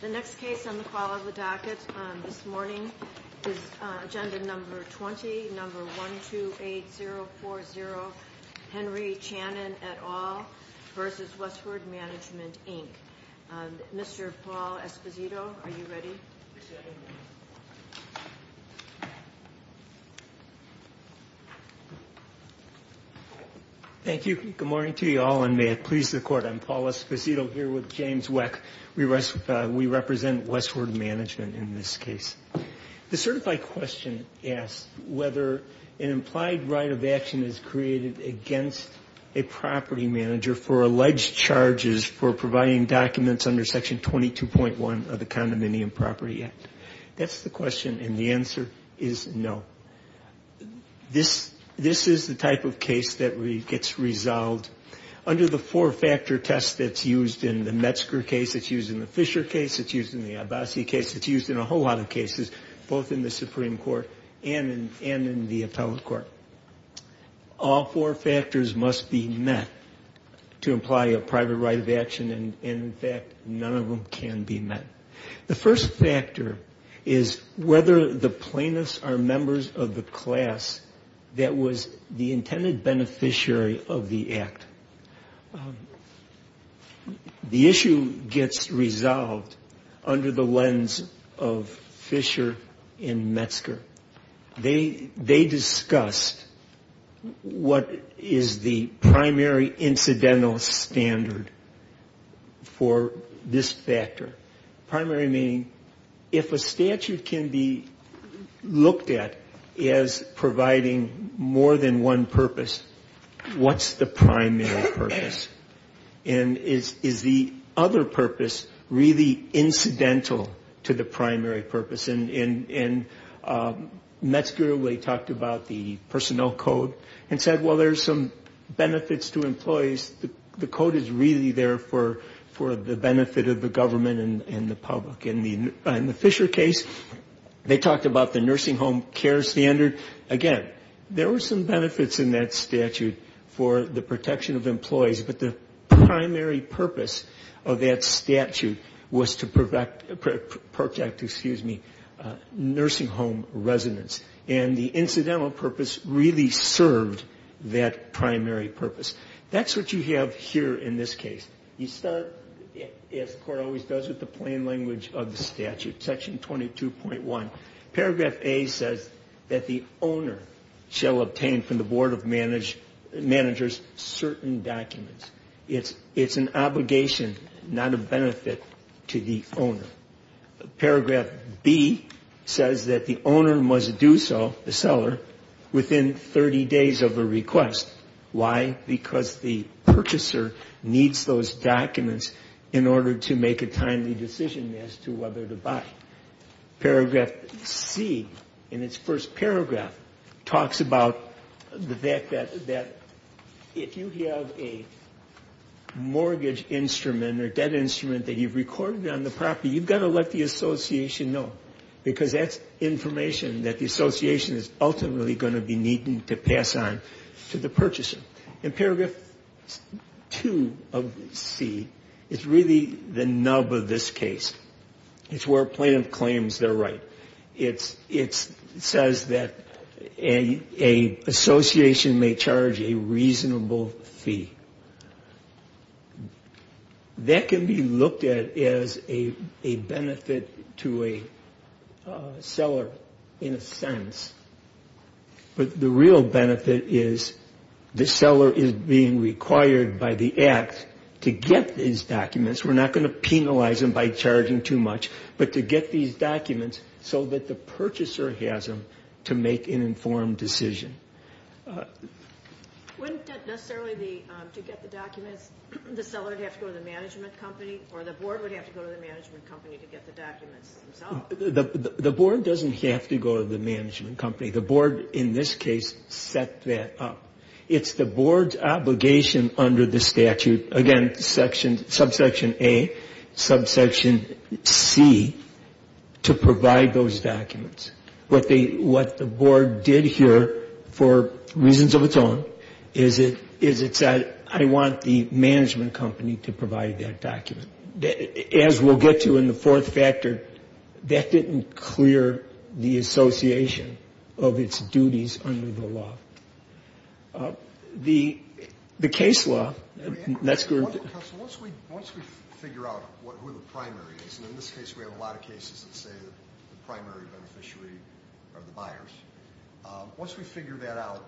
The next case on the call of the docket this morning is Agenda No. 20, No. 128040, Henry Channon et al. v. Westward Management, Inc. Mr. Paul Esposito, are you ready? Thank you. Good morning to you all, and may it please the Court. I'm Paul Esposito here with James Weck. We represent Westward Management in this case. The certified question asks whether an implied right of action is created against a property manager for alleged charges for providing documents under Section 22.1 of the Condominium Property Act. That's the question, and the answer is no. This is the type of case that gets resolved under the four-factor test that's used in the Metzger case, it's used in the Fisher case, it's used in the Abbasi case, it's used in a whole lot of cases, both in the Supreme Court and in the Appellate Court. All four factors must be met to imply a private right of action, and in fact, none of them can be met. The first factor is whether the plaintiffs are members of the class that was the intended beneficiary of the act. The issue gets resolved under the lens of Fisher and Metzger. They discussed what is the primary incidental standard for this factor. Primary meaning if a statute can be looked at as providing more than one purpose, what's the primary purpose? And is the other purpose really incidental to the primary purpose? And Metzger talked about the personnel code and said, well, there's some benefits to employees. The code is really there for the benefit of the government and the public. In the Fisher case, they talked about the nursing home care standard. Again, there were some benefits in that statute for the protection of employees, but the primary purpose of that statute was to protect, excuse me, nursing home residents. And the incidental purpose really served that primary purpose. That's what you have here in this case. You start, as the Court always does, with the plain language of the statute, Section 22.1. Paragraph A says that the owner shall obtain from the Board of Managers certain documents. It's an obligation, not a benefit to the owner. Paragraph B says that the owner must do so, the seller, within 30 days of a request. Why? Because the purchaser needs those documents in order to make a timely decision as to whether to buy. Paragraph C, in its first paragraph, talks about the fact that if you have a mortgage instrument or debt instrument that you've recorded on the property, you've got to let the association know, because that's information that the association is ultimately going to be needing to pass on to the purchaser. And Paragraph 2 of C is really the nub of this case. It's where a plaintiff claims they're right. It says that an association may charge a reasonable fee. That can be looked at as a benefit to a seller, in a sense. But the real benefit is the seller is being required by the Act to get these documents. We're not going to penalize them by charging too much, but to get these documents so that the purchaser has them to make an informed decision. Wouldn't that necessarily be, to get the documents, the seller would have to go to the management company, or the board would have to go to the management company to get the documents themselves? The board doesn't have to go to the management company. The board, in this case, set that up. It's the board's obligation under the statute, again, subsection A, subsection C, to provide those documents. What the board did here, for reasons of its own, is it said, I want the management company to provide that document. As we'll get to in the fourth factor, that didn't clear the association of its duties under the law. The case law, that's group. Once we figure out who the primary is, and in this case we have a lot of cases that say the primary beneficiary are the buyers. Once we figure that out,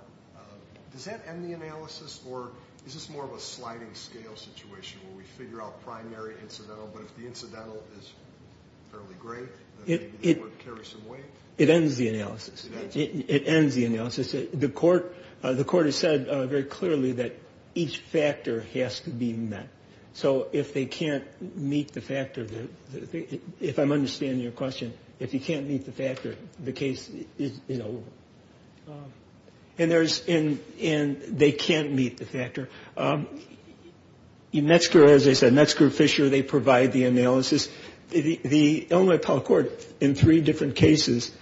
does that end the analysis, or is this more of a sliding scale situation, where we figure out primary, incidental, but if the incidental is fairly great, then maybe the board carries some weight? It ends the analysis. It ends the analysis. The court has said very clearly that each factor has to be met. So if they can't meet the factor, if I'm understanding your question, if you can't meet the factor, the case is over. And they can't meet the factor. In Metzger, as I said, Metzger, Fisher, they provide the analysis. The Illinois Appellate Court, in three different cases,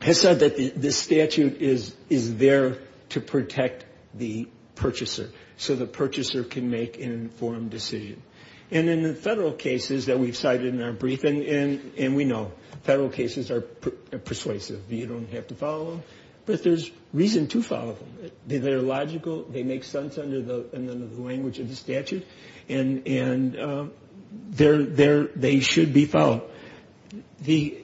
has said that this statute is there to protect the purchaser, so the purchaser can make an informed decision. And in the federal cases that we've cited in our briefing, and we know, federal cases are persuasive. You don't have to follow them, but there's reason to follow them. They're logical, they make sense under the language of the statute, and they should be followed. The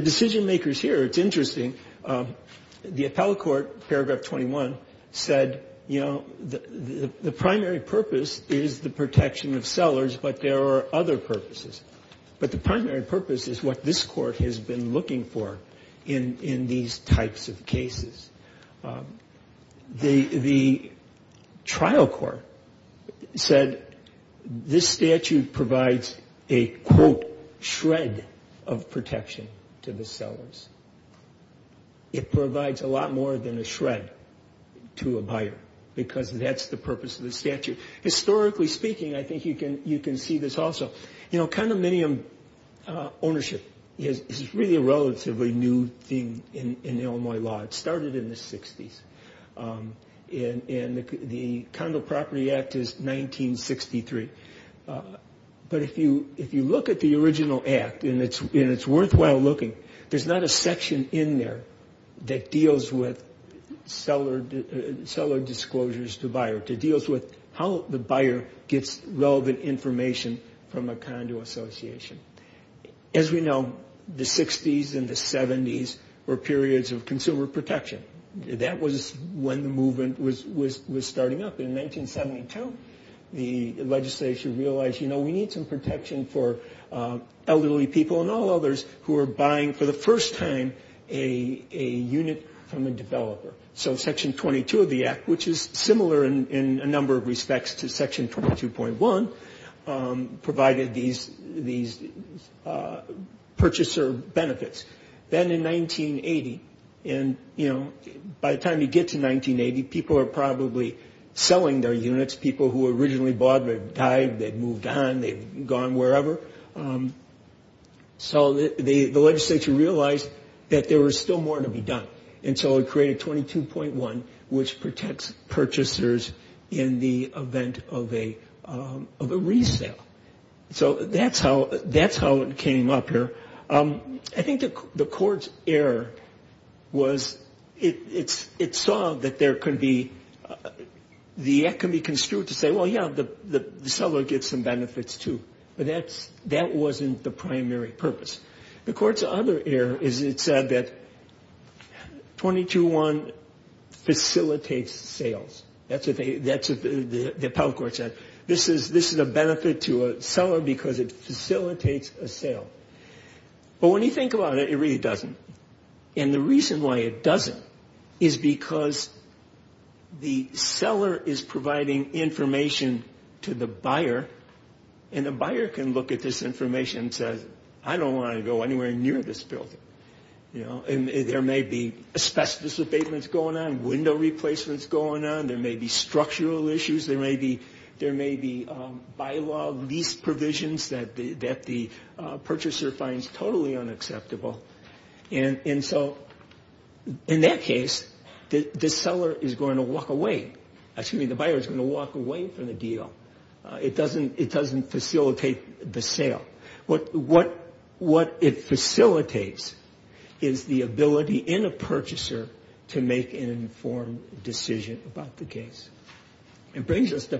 decision-makers here, it's interesting, the Appellate Court, paragraph 21, said, you know, the primary purpose is the protection of sellers, but there are other purposes. But the primary purpose is what this court has been looking for in these types of cases. The trial court said this statute provides a, quote, shred of protection to the sellers. It provides a lot more than a shred to a buyer, because that's the purpose of the statute. Historically speaking, I think you can see this also. You know, condominium ownership is really a relatively new thing in Illinois law. It started in the 60s, and the Condo Property Act is 1963. But if you look at the original act, and it's worthwhile looking, there's not a section in there that deals with seller disclosures to buyers. It deals with how the buyer gets relevant information from a condo association. As we know, the 60s and the 70s were periods of consumer protection. That was when the movement was starting up. In 1972, the legislature realized, you know, we need some protection for elderly people and all others who are buying, for the first time, a unit from a developer. So section 22 of the act, which is similar in a number of respects to section 22.1, provided these purchaser benefits. Then in 1980, and, you know, by the time you get to 1980, people are probably selling their units. People who originally bought, they've died, they've moved on, they've gone wherever. So the legislature realized that there was still more to be done. And so it created 22.1, which protects purchasers in the event of a resale. So that's how it came up here. I think the court's error was it saw that there could be, the act could be construed to say, well, yeah, the seller gets some benefits, too. But that wasn't the primary purpose. The court's other error is it said that 22.1 facilitates sales. That's what the appellate court said. This is a benefit to a seller because it facilitates a sale. But when you think about it, it really doesn't. And the reason why it doesn't is because the seller is providing information to the buyer, and the buyer can look at this information and say, I don't want to go anywhere near this building. And there may be asbestos abatements going on, window replacements going on. There may be structural issues, there may be bylaw lease provisions that the purchaser finds totally unacceptable. And so in that case, the seller is going to walk away, excuse me, the buyer is going to walk away from the deal. It doesn't facilitate the sale. What it facilitates is the ability in a purchaser to make an informed decision about the case. It brings us to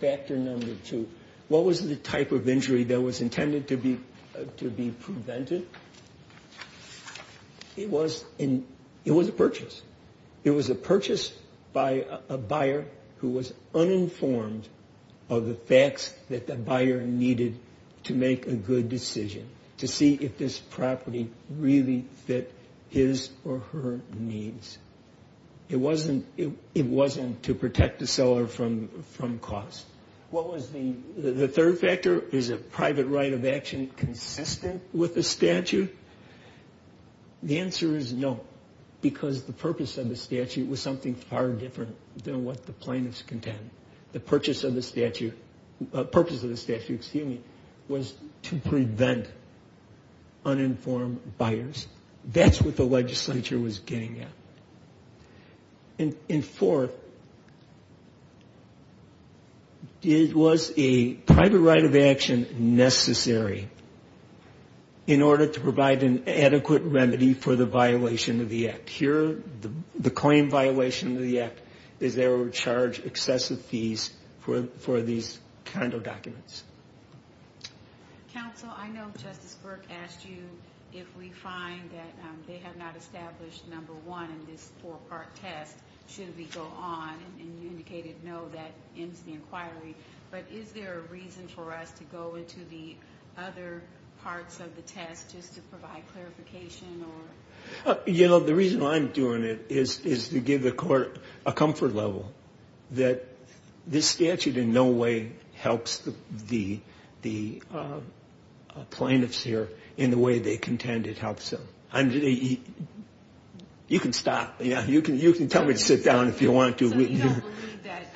factor number two, what was the type of injury that was intended to be prevented? It was a purchase. It was a purchase by a buyer who was uninformed of the facts that the buyer needed to make a good decision, to see if this property really fit his or her needs. It wasn't to protect the seller from cost. The third factor, is a private right of action consistent with the statute? The answer is no, because the purpose of the statute was something far different than what the plaintiffs contend. The purpose of the statute was to prevent uninformed buyers. That's what the legislature was getting at. And fourth, was a private right of action necessary in order to provide an adequate remedy for the violation of the act? Here, the claim violation of the act is they were charged excessive fees for these condo documents. Counsel, I know Justice Burke asked you if we find that they have not established number one in these four properties. And you indicated no, that ends the inquiry. But is there a reason for us to go into the other parts of the test just to provide clarification? You know, the reason I'm doing it is to give the court a comfort level that this statute in no way helps the plaintiffs here in the way they contend it helps them. You can stop. You can tell me to sit down if you want to. So you don't believe that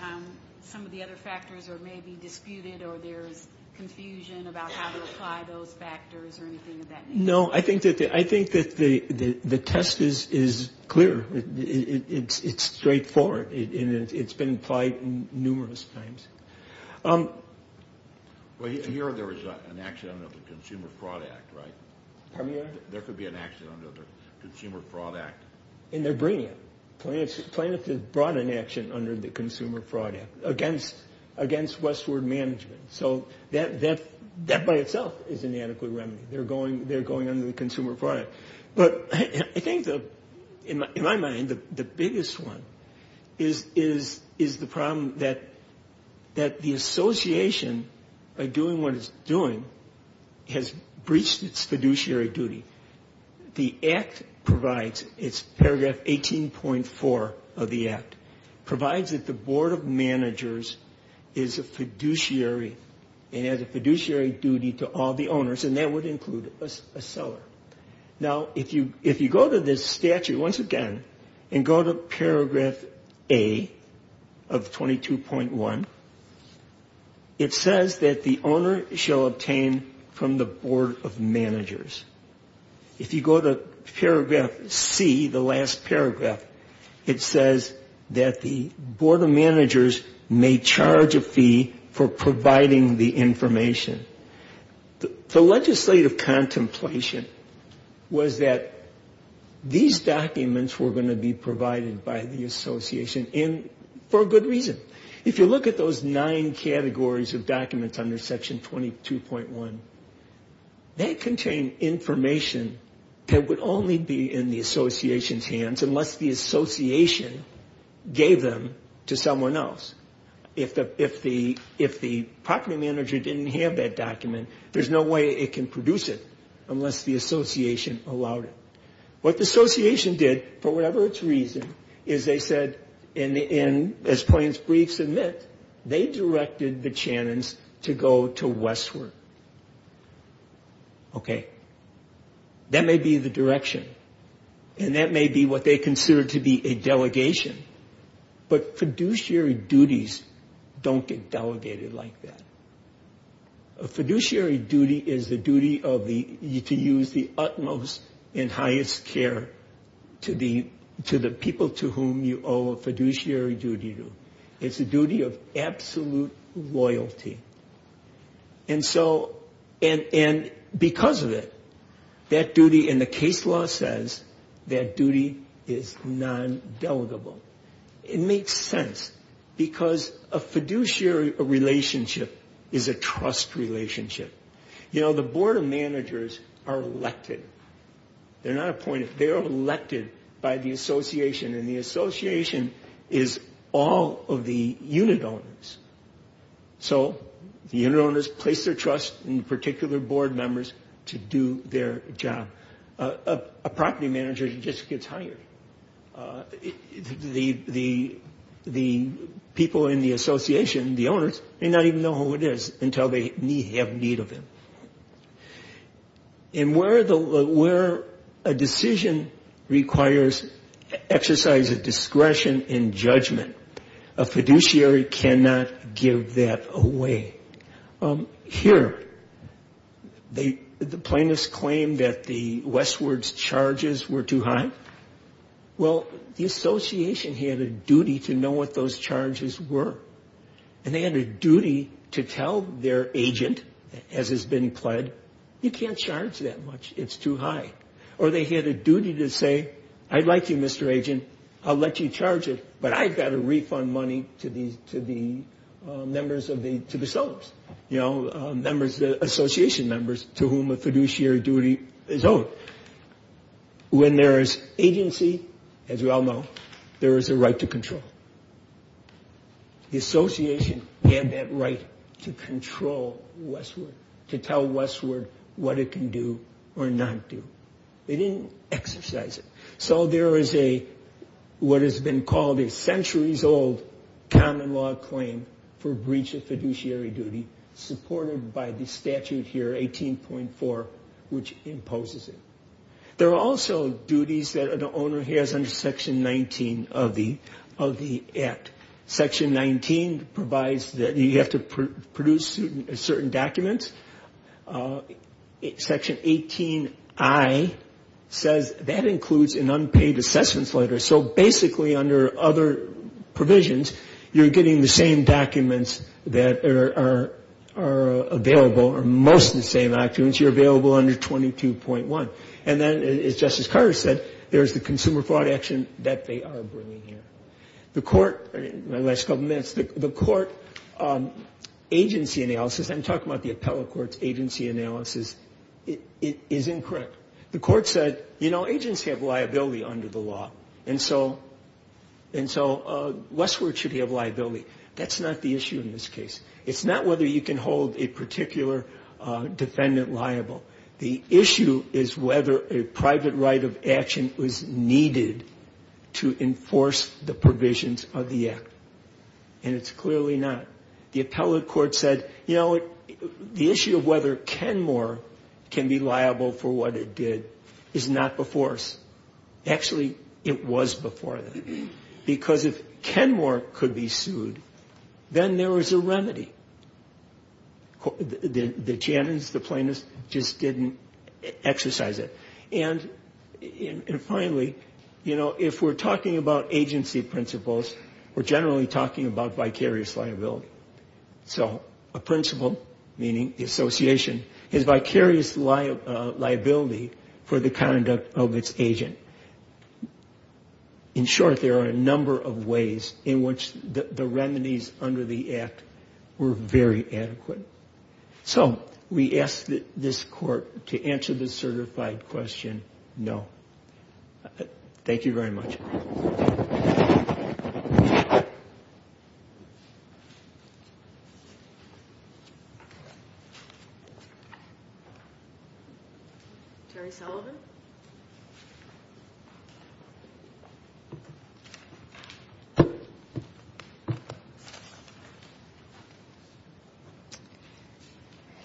some of the other factors are maybe disputed or there's confusion about how to apply those factors or anything of that nature? No, I think that the test is clear. It's straightforward. It's been applied numerous times. Well, here there was an action under the Consumer Fraud Act, right? Pardon me? There could be an action under the Consumer Fraud Act. And they're bringing it. Plaintiffs have brought an action under the Consumer Fraud Act against Westward Management. So that by itself is inadequate remedy. They're going under the Consumer Fraud Act. But I think, in my mind, the biggest one is the problem that the association, by doing what it's doing, has breached its fiduciary duty. The Act provides, it's paragraph 18.4 of the Act, provides that the Board of Managers is a fiduciary and has a fiduciary duty to all the owners, and that would include a seller. Now, if you go to this statute once again and go to paragraph A of 22.1, it says that the owner shall obtain from the Board of Managers. If you go to paragraph C, the last paragraph, it says that the Board of Managers may charge a fee for providing the information. The legislative contemplation was that these documents were going to be provided by the association, and for a good reason. If you look at those nine categories of documents under section 22.1, they contain information that would only be in the association's hands unless the association gave them to someone else. If the property manager didn't have that document, there's no way it can produce it unless the association allowed it. What the association did, for whatever its reason, is they said, and as Plains briefs admit, they directed the Channons to go to Westward. Okay. That may be the direction, and that may be what they consider to be a delegation. But fiduciary duties don't get delegated like that. A fiduciary duty is the duty to use the utmost and highest care to the people to whom you owe a fiduciary duty to. It's a duty of absolute loyalty. And because of it, that duty, and the case law says that duty is non-delegable. It makes sense, because a fiduciary relationship is a trust relationship. You know, the board of managers are elected. They're not appointed. They are elected by the association, and the association is all of the unit owners. So the unit owners place their trust in particular board members to do their job. A property manager just gets hired. The people in the association, the owners, may not even know who it is until they have need of him. And where a decision requires exercise of discretion and judgment, a fiduciary cannot give that away. Here, the plaintiffs claim that the Westward's charges were too high. Well, the association had a duty to know what those charges were. And they had a duty to tell their agent, as has been implied, you can't charge that much, it's too high. Or they had a duty to say, I'd like you, Mr. Agent, I'll let you charge it, but I've got to refund money to the members of the, to the sellers. You know, association members to whom a fiduciary duty is owed. When there is agency, as we all know, there is a right to control. The association had that right to control Westward, to tell Westward what it can do or not do. They didn't exercise it. So there is a, what has been called a centuries-old common law claim for breach of fiduciary duty, supported by the statute here, 18.4, which imposes it. There are also duties that an owner has under Section 19 of the Act. Section 19 provides that you have to produce certain documents. Section 18I says that includes an unpaid assessments letter. So basically, under other provisions, you're getting the same documents that are available, or most of the same documents, you're available under 22.1. And then, as Justice Carter said, there's the consumer fraud action that they are bringing here. The court, in the last couple minutes, the court agency analysis, I'm talking about the appellate court's agency analysis, is incorrect. The court said, you know, agents have liability under the law, and so Westward should have liability. That's not the issue in this case. It's not whether you can hold a particular defendant liable. That's not the provisions of the Act, and it's clearly not. The appellate court said, you know, the issue of whether Kenmore can be liable for what it did is not before us. Actually, it was before them, because if Kenmore could be sued, then there was a remedy. The Janins, the plaintiffs, just didn't exercise it. And finally, you know, if we're talking about agency principles, we're generally talking about vicarious liability. So a principle, meaning the association, is vicarious liability for the conduct of its agent. In short, there are a number of ways in which the remedies under the Act were very adequate. So we ask that this court to answer the certified question, no. Thank you very much.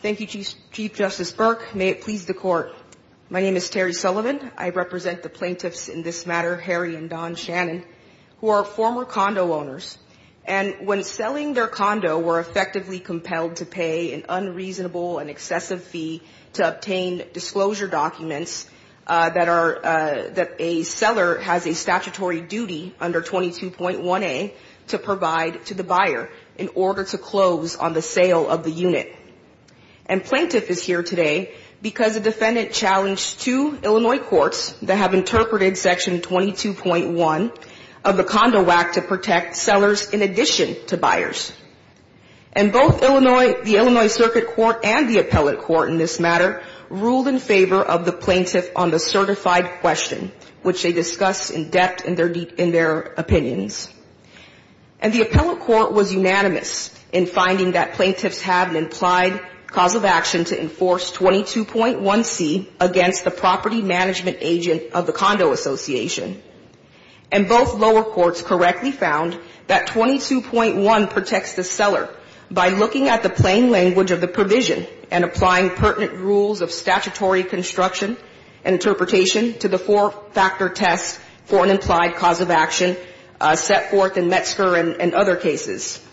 Thank you, Chief Justice Burke. May it please the Court. My name is Terry Sullivan. I represent the plaintiffs in this matter, Harry and Don Shannon, who are former condo owners. And when selling their condo, were effectively compelled to pay an unreasonable and excessive fee to obtain disclosure documents that are – that a seller has a statutory duty under 22.1a to provide to the buyer in order to close on the sale of the unit. And plaintiff is here today because a defendant challenged two Illinois courts that have interpreted Section 22.1 of the Condo Act to protect sellers in addition to buyers. And both Illinois – the Illinois Circuit Court and the appellate court in this matter ruled in favor of the plaintiff on the certified question, which they discussed in depth in their – in their opinions. And the appellate court was unanimous in finding that plaintiffs have an implied cause of action to enforce 22.1c against the property management agent of the condo association. And both lower courts correctly found that 22.1 protects the seller by looking at the plain language of the provision and applying pertinent rules of statutory construction and interpretation to the four-factor test for an implied cause of action, section 22.1a.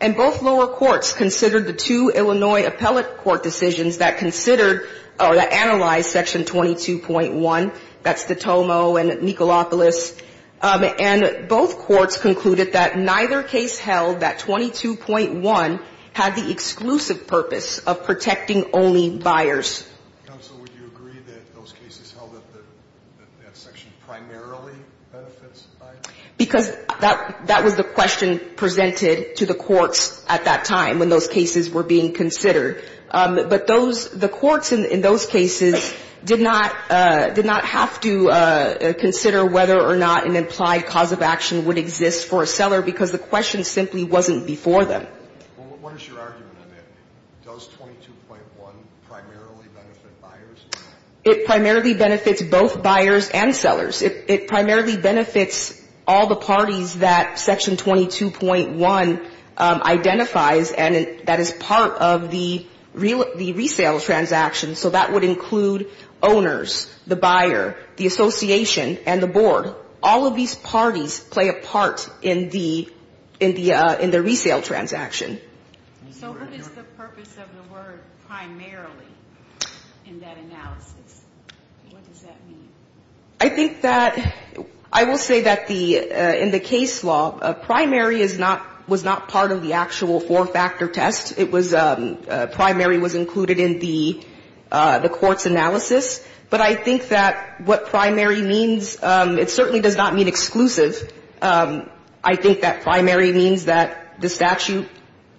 And both lower courts considered the two Illinois appellate court decisions that considered – or that analyzed Section 22.1, that's the Tomo and Nikolopoulos, and both courts concluded that neither case held that 22.1 had the exclusive purpose of protecting only buyers. Counsel, would you agree that those cases held that that section primarily benefits buyers? Because that – that was the question presented to the courts at that time when those cases were being considered. But those – the courts in those cases did not – did not have to consider whether or not an implied cause of action would exist for a seller because the question simply wasn't before them. Well, what is your argument on that? Does 22.1 primarily benefit buyers? It primarily benefits both buyers and sellers. It – it primarily benefits all the parties that Section 22.1 identifies and that is part of the – the resale transaction. So that would include owners, the buyer, the association, and the board. All of these parties play a part in the – in the – in the resale transaction. So what is the purpose of the word primarily in that analysis? What does that mean? I think that – I will say that the – in the case law, primary is not – was not part of the actual four-factor test. It was – primary was included in the – the court's analysis. But I think that what primary means, it certainly does not mean exclusive. I think that primary means that the statute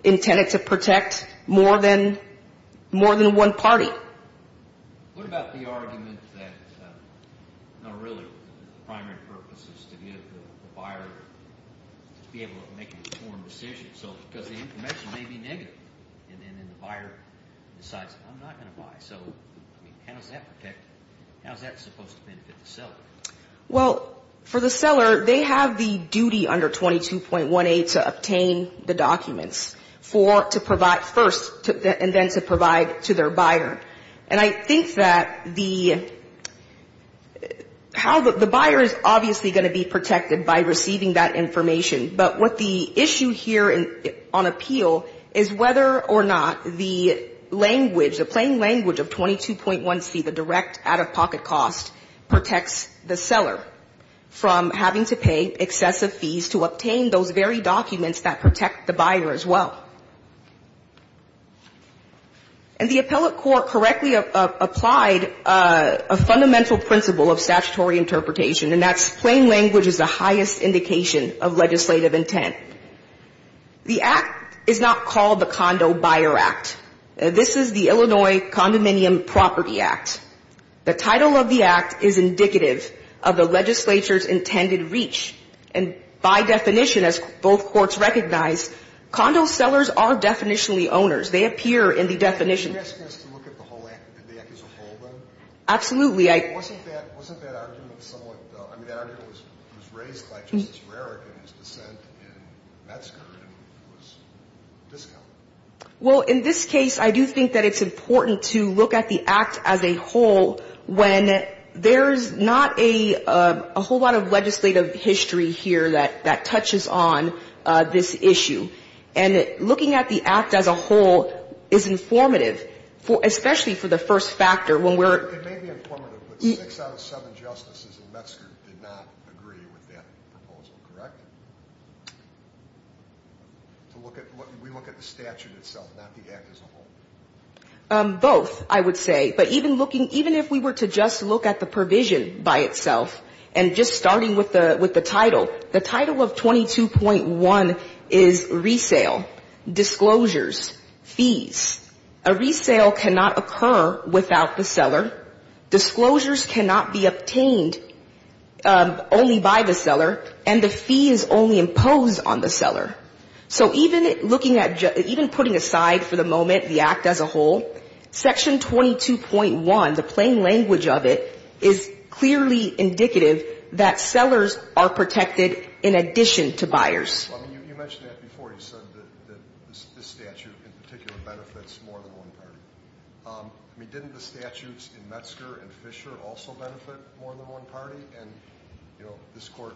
intended to protect more than – more than one party. What about the argument that – no, really, the primary purpose is to give the buyer – to be able to make an informed decision. So – because the information may be negative and then the buyer decides, I'm not going to buy. So, I mean, how does that protect – how is that supposed to benefit the seller? Well, for the seller, they have the duty under 22.18 to obtain the documents for – to provide – first and then to provide to their buyer. And I think that the – how the – the buyer is obviously going to be protected by receiving that information. But what the issue here on appeal is whether or not the language, the plain language of 22.1c, the direct out-of-pocket cost, protects the buyer. Protects the seller from having to pay excessive fees to obtain those very documents that protect the buyer as well. And the appellate court correctly applied a fundamental principle of statutory interpretation, and that's plain language is the highest indication of legislative intent. The act is not called the Condo Buyer Act. This is the Illinois Condominium Property Act. The title of the act is indicative of the legislature's intended reach. And by definition, as both courts recognize, condo sellers are definitionally owners. They appear in the definition. You're asking us to look at the whole act. Did the act as a whole, then? Absolutely. I – Wasn't that – wasn't that argument somewhat – I mean, that argument was raised by Justice Rarick in his dissent in Metzger, and it was discounted. But I would say that the act as a whole, when there's not a whole lot of legislative history here that touches on this issue, and looking at the act as a whole is informative, especially for the first factor, when we're – It may be informative, but six out of seven justices in Metzger did not agree with that proposal, correct? To look at – we look at the statute itself, not the act as a whole. Both, I would say. But even looking – even if we were to just look at the provision by itself, and just starting with the title, the title of 22.1 is resale, disclosures, fees. A resale cannot occur without the seller. Disclosures cannot be obtained only by the seller, and the fee is only imposed on the seller. So even looking at – even putting aside for the moment the act as a whole, Section 22.1, the plain language of it, is clearly indicative that sellers are protected in addition to buyers. You mentioned that before. You said that this statute in particular benefits more than one party. I mean, didn't the statutes in Metzger and Fisher also benefit more than one party? And, you know, this Court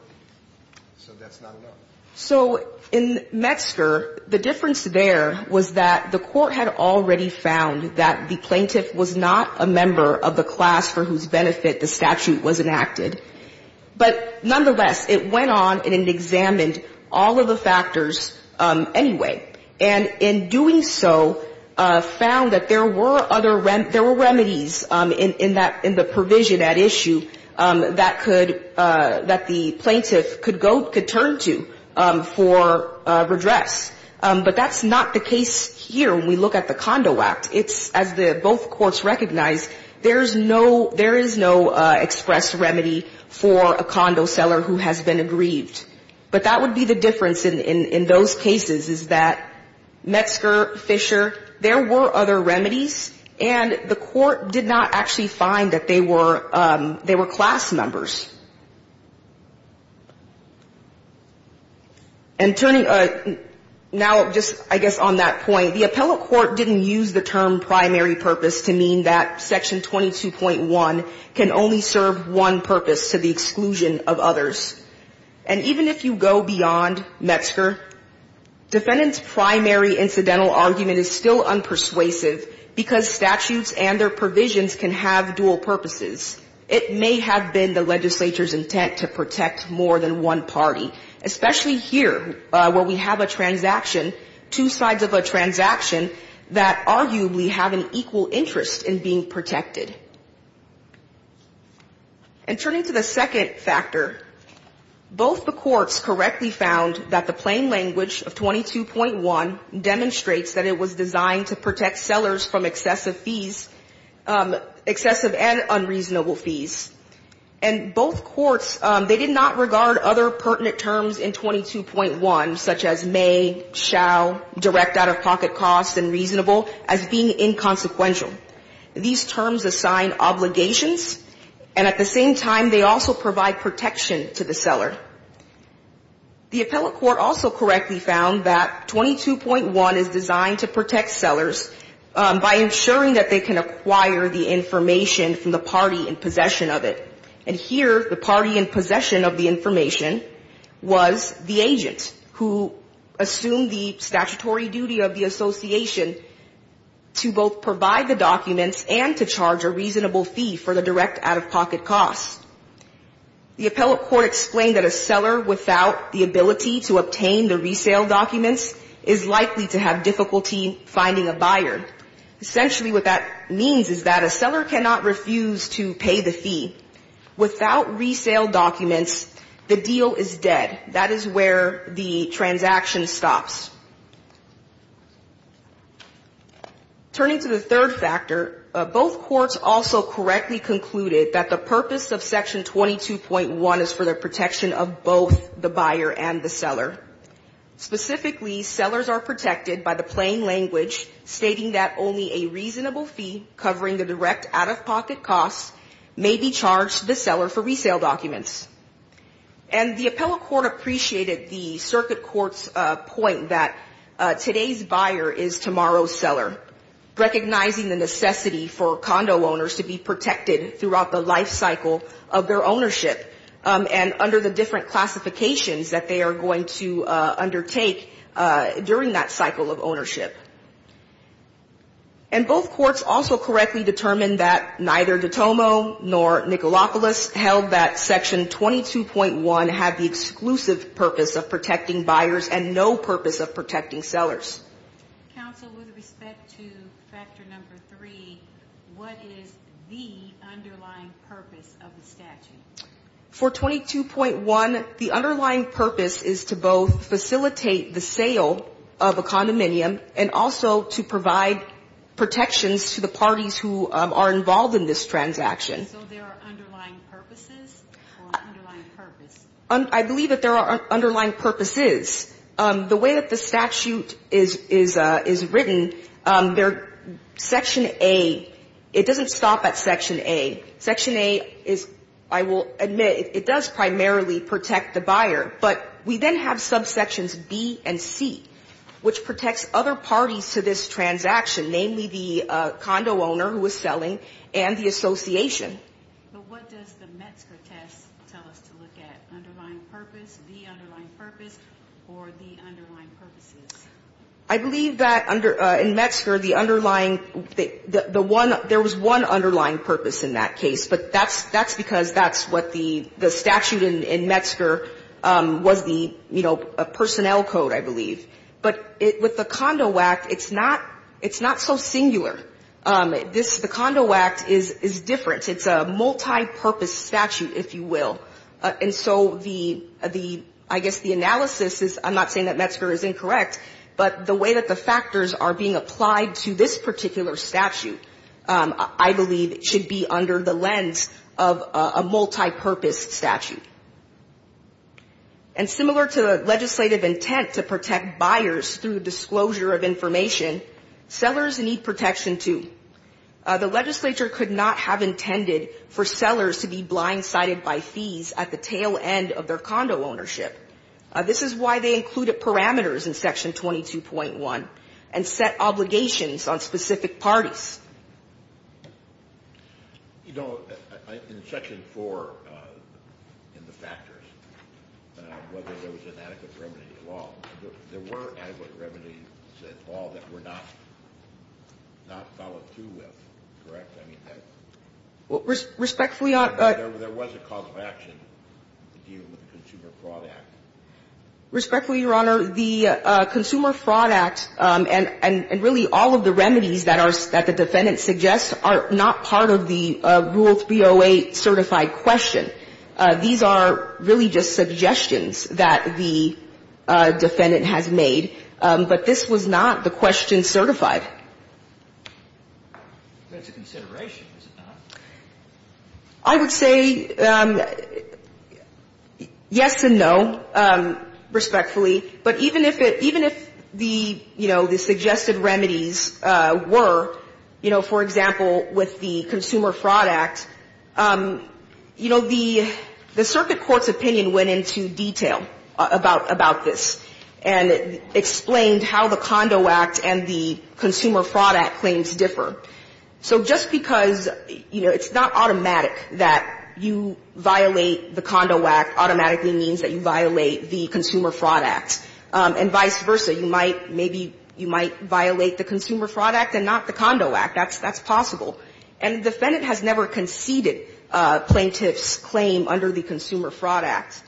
– so that's not enough. So in Metzger, the difference there was that the Court had already found that the plaintiff was not a member of the class for whose benefit the statute was enacted. But nonetheless, it went on and it examined all of the factors anyway. And in doing so, found that there were other – there were remedies in that – in the provision at issue that could have been used. That could – that the plaintiff could go – could turn to for redress. But that's not the case here when we look at the Condo Act. It's – as both courts recognize, there's no – there is no express remedy for a condo seller who has been aggrieved. But that would be the difference in those cases, is that Metzger, Fisher, there were other remedies, and the Court did not actually find that they were class members. And turning – now, just, I guess, on that point, the appellate court didn't use the term primary purpose to mean that Section 22.1 can only serve one purpose to the exclusion of others. And even if you go beyond Metzger, defendant's primary incidental argument is still unpersuasive because statutes and their provisions can have dual purposes. It may have been the legislature's intent to protect more than one party, especially here, where we have a transaction, two sides of a transaction, that arguably have an equal interest in being protected. And turning to the second factor, both the courts correctly found that the plain language of 22.1 demonstrates that it was designed to protect sellers from excessive fees, excessive and unreasonable fees. And both courts, they did not regard other pertinent terms in 22.1, such as may, shall, direct out-of-pocket costs, and reasonable, as being inconsequential. These terms assign obligations, and at the same time, they also provide protection to the seller. The appellate court also correctly found that 22.1 is designed to protect sellers from excessive fees. By ensuring that they can acquire the information from the party in possession of it. And here, the party in possession of the information was the agent who assumed the statutory duty of the association to both provide the documents and to charge a reasonable fee for the direct out-of-pocket costs. The appellate court explained that a seller without the ability to obtain the resale documents is likely to have difficulty finding a buyer. Essentially, what that means is that a seller cannot refuse to pay the fee. Without resale documents, the deal is dead. That is where the transaction stops. Turning to the third factor, both courts also correctly concluded that the purpose of Section 22.1 is for the protection of both the buyer and the seller. Specifically, sellers are protected by the plain language stating that only a reasonable fee covering the direct out-of-pocket costs may be charged to the seller for resale documents. And the appellate court appreciated the circuit court's point that today's buyer is tomorrow's seller. Recognizing the necessity for condo owners to be protected throughout the life cycle of their ownership, and under the different classifications that they are going to undertake during that cycle of ownership. And both courts also correctly determined that neither De Tomo nor Nicolopoulos held that Section 22.1 had the exclusive purpose of protecting buyers and no purpose of protecting sellers. Counsel, with respect to factor number three, what is the underlying purpose of the statute? For 22.1, the underlying purpose is to both facilitate the sale of a condominium and also to provide protections to the parties who are involved in this transaction. I believe that there are underlying purposes. The way that the statute is written, Section A, it doesn't stop at Section A. Section A is, I will admit, it does primarily protect the buyer, but we then have subsections B and C, which protects other parties to this transaction, namely the condo owner who is selling and the association. But what does the Metzger test tell us to look at, underlying purpose, the underlying purpose, or the underlying purposes? I believe that under, in Metzger, the underlying, the one, there was one underlying purpose in that case. But that's because that's what the statute in Metzger was the, you know, personnel code, I believe. But with the Condo Act, it's not so singular. The Condo Act is different. It's a multipurpose statute, if you will. And so the, I guess the analysis is, I'm not saying that Metzger is incorrect, but the way that the factors are being applied to this statute, it's a different lens of a multipurpose statute. And similar to the legislative intent to protect buyers through disclosure of information, sellers need protection, too. The legislature could not have intended for sellers to be blindsided by fees at the tail end of their condo ownership. This is why they included parameters in Section 22.1 and set obligations on specific parties. In Section 4, in the factors, whether there was an adequate remedy at all. There were adequate remedies at all that were not, not followed through with, correct? Respectfully, Your Honor. There was a cause of action to deal with the Consumer Fraud Act. Respectfully, Your Honor, the Consumer Fraud Act and really all of the remedies that are, that the defendant suggests are not part of the Rule 308 certified question. These are really just suggestions that the defendant has made, but this was not the question certified. I would say yes and no, respectfully. But even if it, even if the, you know, the suggested remedies were, you know, for example, with the Consumer Fraud Act, you know, the circuit court's opinion went into detail about this and explained how the Condo Act and the Consumer Fraud Act claims differ. So just because, you know, it's not automatic that you violate the Condo Act automatically means that you violate the Consumer Fraud Act, and vice versa. You might, maybe you might violate the Consumer Fraud Act and not the Condo Act. That's, that's possible. And the defendant has never conceded plaintiff's claim under the Consumer Fraud Act.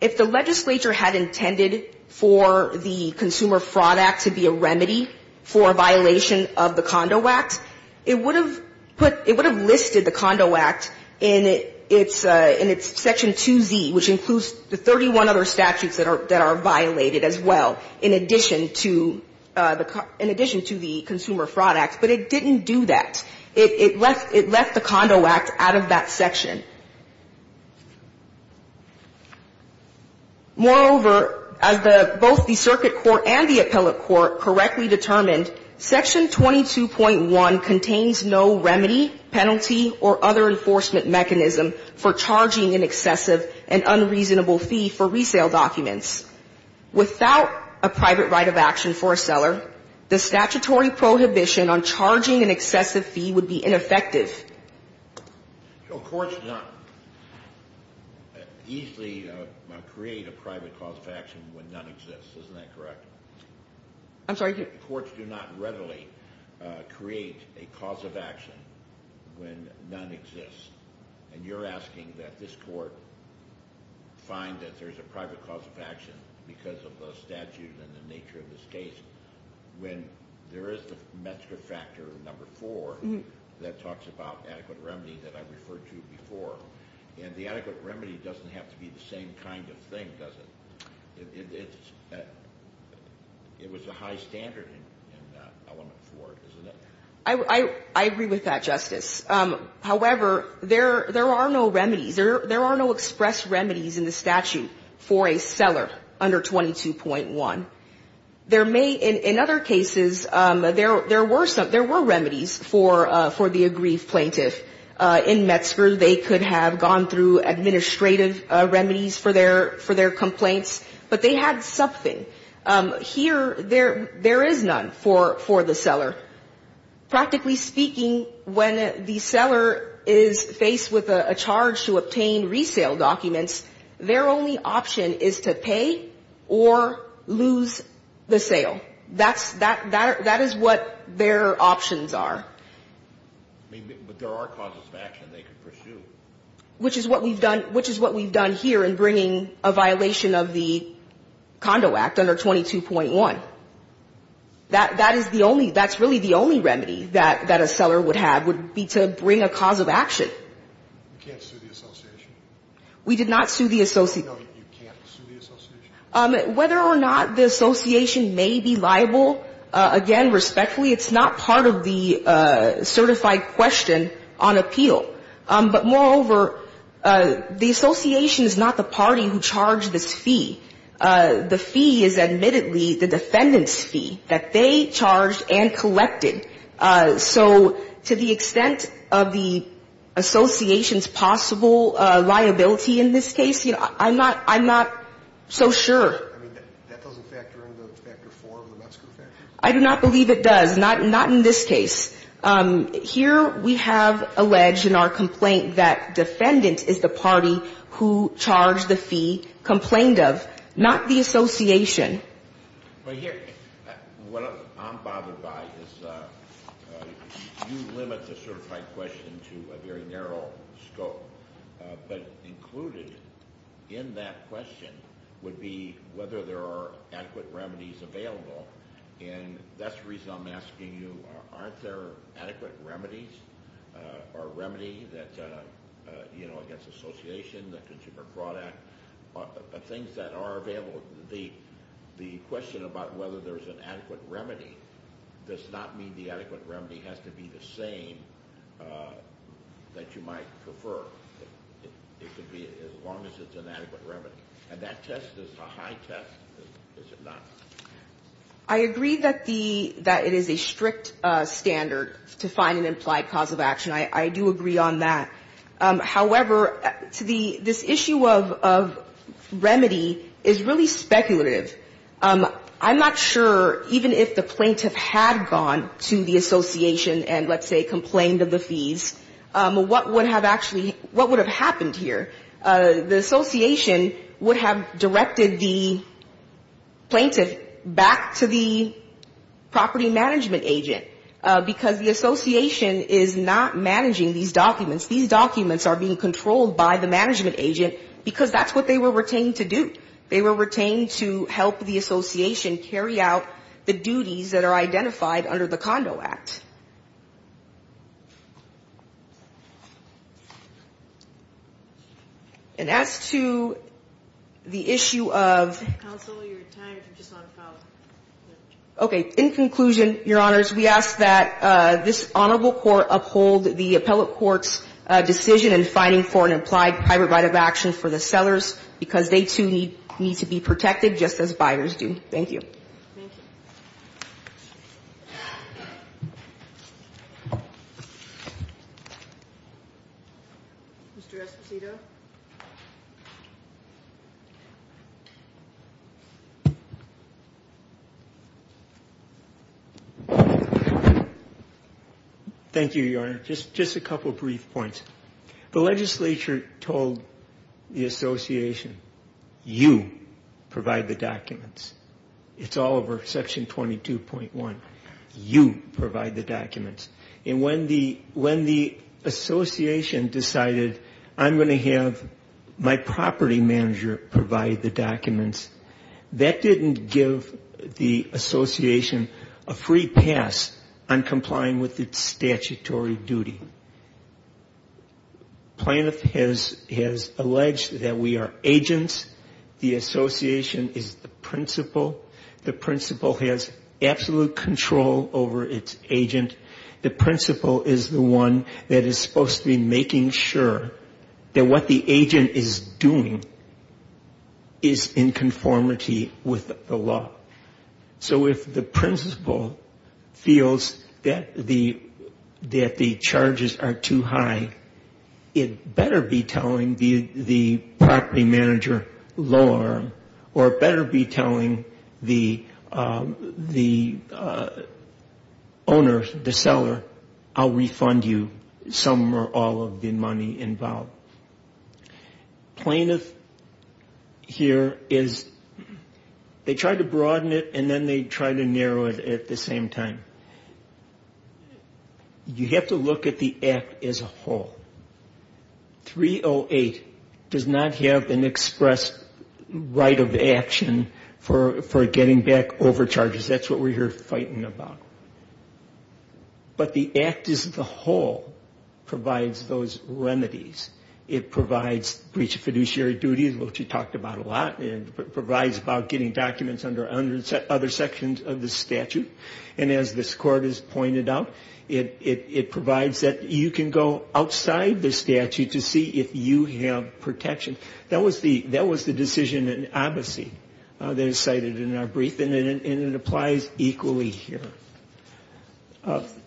If the legislature had intended for the Consumer Fraud Act to be a remedy for a violation of the Condo Act, it would have put, it would have listed the Condo Act in its, in its Section 2Z, which includes the 31 other statutes that are, that are violated as well, in addition to the, in addition to the Consumer Fraud Act. But it didn't do that. It left, it left the Condo Act out of that section. Moreover, as the, both the circuit court and the appellate court correctly determined, Section 22.1 contains no remedy, penalty, or other enforcement mechanism for charging an excessive and unreasonable fee for resale documents. Without a private right of action for a seller, the statutory prohibition on charging an excessive fee would be ineffective. So courts do not easily create a private cause of action when none exists. Isn't that correct? I'm sorry? Circuit courts do not readily create a cause of action when none exists. And you're asking that this court find that there's a private cause of action because of the statute and the nature of this case when there is the metric factor number four that talks about adequate remedy that I referred to before. And the adequate remedy doesn't have to be the same kind of thing, does it? It was a high standard in element four, isn't it? I agree with that, Justice. However, there are no remedies. There are no express remedies in the statute for a seller under 22.1. There may, in other cases, there were some, there were remedies for the aggrieved plaintiff. In Metzger, they could have gone through administrative remedies for their complaints but they had something. Here, there is none for the seller. Practically speaking, when the seller is faced with a charge to obtain resale documents, their only option is to pay or lose the sale. That's, that is what their options are. But there are causes of action they could pursue. Which is what we've done, which is what we've done here in bringing a violation of the Condo Act under 22.1. That, that is the only, that's really the only remedy that, that a seller would have would be to bring a cause of action. We can't sue the association? We did not sue the association. No, you can't sue the association? Whether or not the association may be liable, again, respectfully, it's not part of the certified question on appeal. But moreover, the association is not the party who charged this fee. The fee is admittedly the defendant's fee that they charged and collected. So to the extent of the association's possible liability in this case, you know, I'm not, I'm not so sure. I mean, that doesn't factor into Factor IV of the Metzger effect? I do not believe it does. Not, not in this case. Here we have alleged in our complaint that defendant is the party who charged the fee, complained of, not the association. Well, here, what I'm bothered by is you limit the certified question to a very narrow scope. But included in that question would be whether there are adequate remedies available. And that's the reason I'm asking you, aren't there adequate remedies or remedy that, you know, against association, the Consumer Fraud Act, things that are available? The question about whether there's an adequate remedy does not mean the adequate remedy has to be the same that you might prefer. It could be as long as it's an adequate remedy. And that test is a high test, is it not? I agree that the, that it is a strict standard to find an implied cause of action. I, I do agree on that. However, to the, this issue of, of remedy is really speculative. I'm not sure even if the plaintiff had gone to the association and, let's say, complained of the fees, what would have actually, what would have happened here? The association would have directed the plaintiff back to the property management agent because the association is not managing these documents. These documents are being controlled by the management agent because that's what they were retained to do. They were retained to help the association carry out the duties that are identified under the Condo Act. And as to the issue of. Counsel, your time is just on file. Okay. In conclusion, Your Honors, we ask that this honorable court uphold the appellate court's decision in finding for an implied private right of action for the sellers because they, too, need, need to be protected, just as buyers do. Thank you. Thank you. Mr. Esposito. Thank you, Your Honor. Just, just a couple brief points. The legislature told the association, you provide the documents. It's all over section 22.1. You provide the documents. And when the, when the association decided, I'm going to have my property manager provide the documents, that didn't give the association a free pass on complying with its statutory duty. Plaintiff has, has alleged that we are agents. The association is the principal. The principal has absolute control over its agent. The principal is the one that is supposed to be making sure that what the agent is doing is in conformity with the law. So if the principal feels that the, that the charges are too high, it better be telling the, the property manager lower or better be telling the, the owner, the seller, I'll refund you some or all of the money involved. Plaintiff here is, they tried to broaden it and then they tried to narrow it at the same time. You have to look at the act as a whole. 308 does not have an express right of action for, for getting back overcharges. That's what we're here fighting about. But the act as a whole provides those remedies. It provides breach of fiduciary duties, which we talked about a lot, and it provides about getting documents under other sections of the statute. And as this court has pointed out, it, it, it provides that you can go outside the statute to see if you have protection. That was the, that was the decision in advocacy that is cited in our brief and it, and it applies equally here.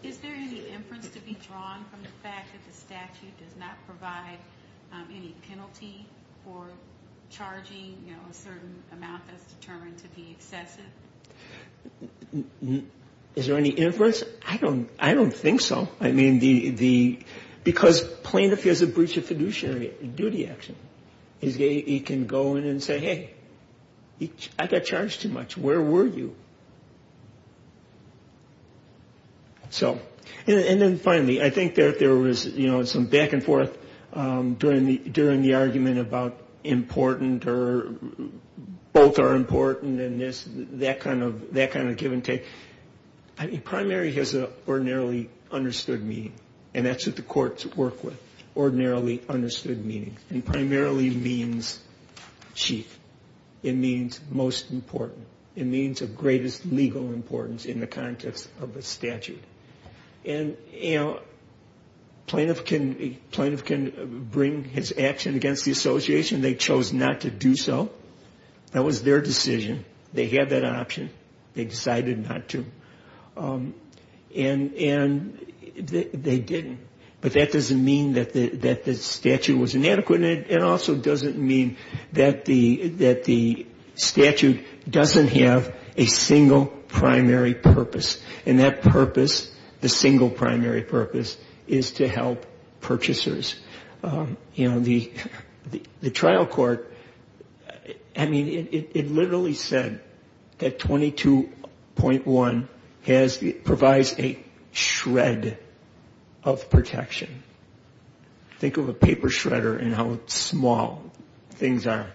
Is there any inference to be drawn from the fact that the statute does not provide any penalty for charging, you know, a certain amount that's determined to be excessive? Is there any inference? I don't, I don't think so. I mean, the, the, because plaintiff has a breach of fiduciary duty action. He can go in and say, hey, I got charged too much. Where were you? So, and then finally, I think there, there was, you know, some back and forth during the, during the argument about important or both are important and this, that kind of, that kind of give and take. I mean, primary has an ordinarily understood meaning, and that's what the courts work with, ordinarily understood meaning. It primarily means chief. It means most important. It means of greatest legal importance in the context of a statute. And, you know, plaintiff can, plaintiff can bring his action against the association. They chose not to do so. That was their decision. They had that option. They decided not to. And, and they didn't. But that doesn't mean that the, that the statute was inadequate. And it also doesn't mean that the, that the statute doesn't have a single primary purpose. And that purpose, the single primary purpose, is to help purchasers. You know, the, the trial court, I mean, it literally said that 22.1 has, provides a shred of protection. Think of a paper shredder and how small things are.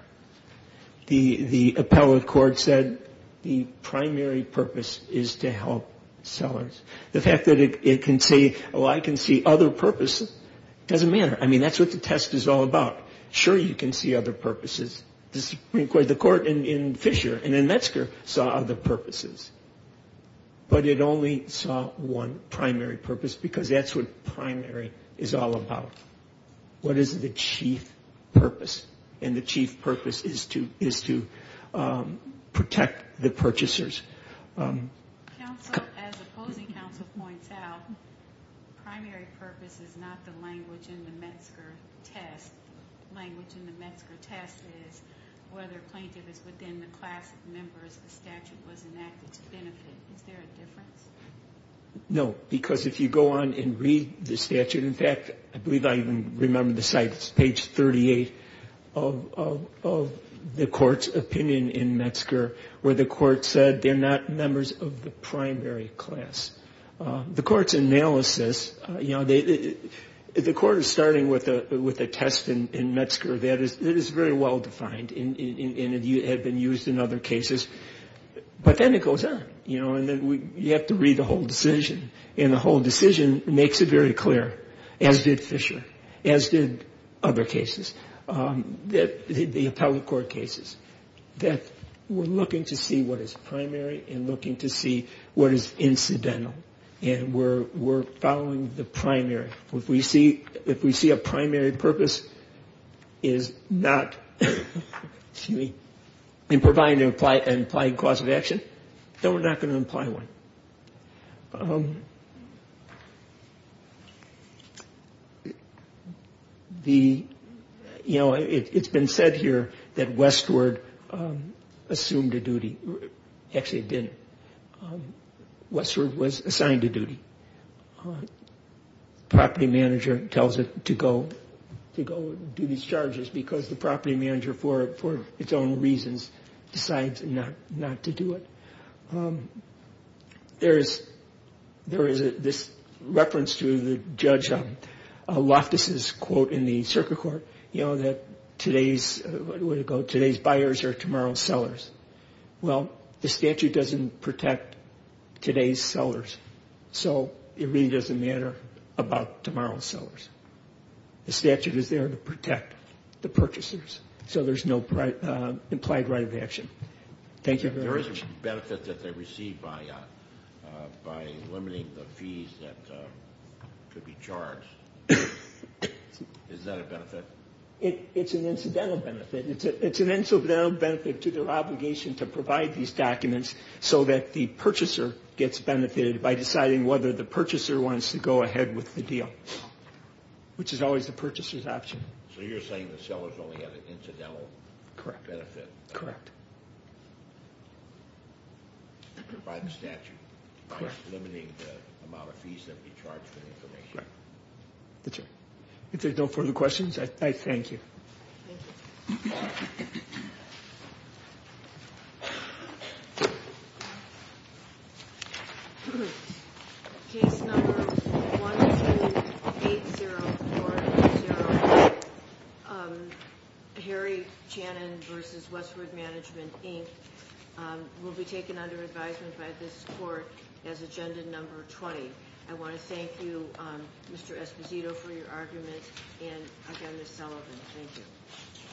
The, the appellate court said the primary purpose is to help sellers. The fact that it can say, oh, I can see other purposes, doesn't matter. I mean, that's what the test is all about. Sure, you can see other purposes. The Supreme Court, the court in Fisher and in Metzger saw other purposes. But it only saw one primary purpose because that's what primary is all about. What is the chief purpose? And the chief purpose is to, is to protect the purchasers. Counsel, as opposing counsel points out, primary purpose is not the language in the Metzger test. Language in the Metzger test is whether plaintiff is within the class of members the statute was enacted to benefit. Is there a difference? No, because if you go on and read the statute, in fact, I believe I even remember the site. It's page 38 of the court's opinion in Metzger, where the court said they're not members of the primary class. The court's analysis, you know, the court is starting with a test in Metzger that is very well defined and had been used in other cases. But then it goes on, you know, and you have to read the whole decision. And the whole decision makes it very clear, as did Fisher, as did other cases, the appellate court cases, that we're looking to see what is primary and looking to see what is incidental. And we're following the primary. If we see a primary purpose is not, excuse me, in providing an implied cause of action, then we're not going to imply one. The, you know, it's been said here that Westward assumed a duty. Actually, it didn't. Westward was assigned a duty. The property manager tells it to go do these charges because the property manager, for its own reasons, decides not to do it. There is this reference to the judge Loftus' quote in the circuit court, you know, that today's buyers are tomorrow's sellers. Well, the statute doesn't protect today's sellers, so it really doesn't matter about tomorrow's sellers. The statute is there to protect the purchasers, so there's no implied right of action. There is a benefit that they receive by limiting the fees that could be charged. Is that a benefit? It's an incidental benefit. It's an incidental benefit to their obligation to provide these documents so that the purchaser gets benefited by deciding whether the purchaser wants to go ahead with the deal, which is always the purchaser's option. So you're saying the sellers only have an incidental benefit? Correct. By the statute? Correct. Limiting the amount of fees that would be charged for the information? Correct. That's right. If there's no further questions, I thank you. Thank you. Thank you. Case number 128040, Harry Channon v. Westwood Management, Inc., will be taken under advisement by this court as agenda number 20. I want to thank you, Mr. Esposito, for your argument, and again, Ms. Sullivan, thank you.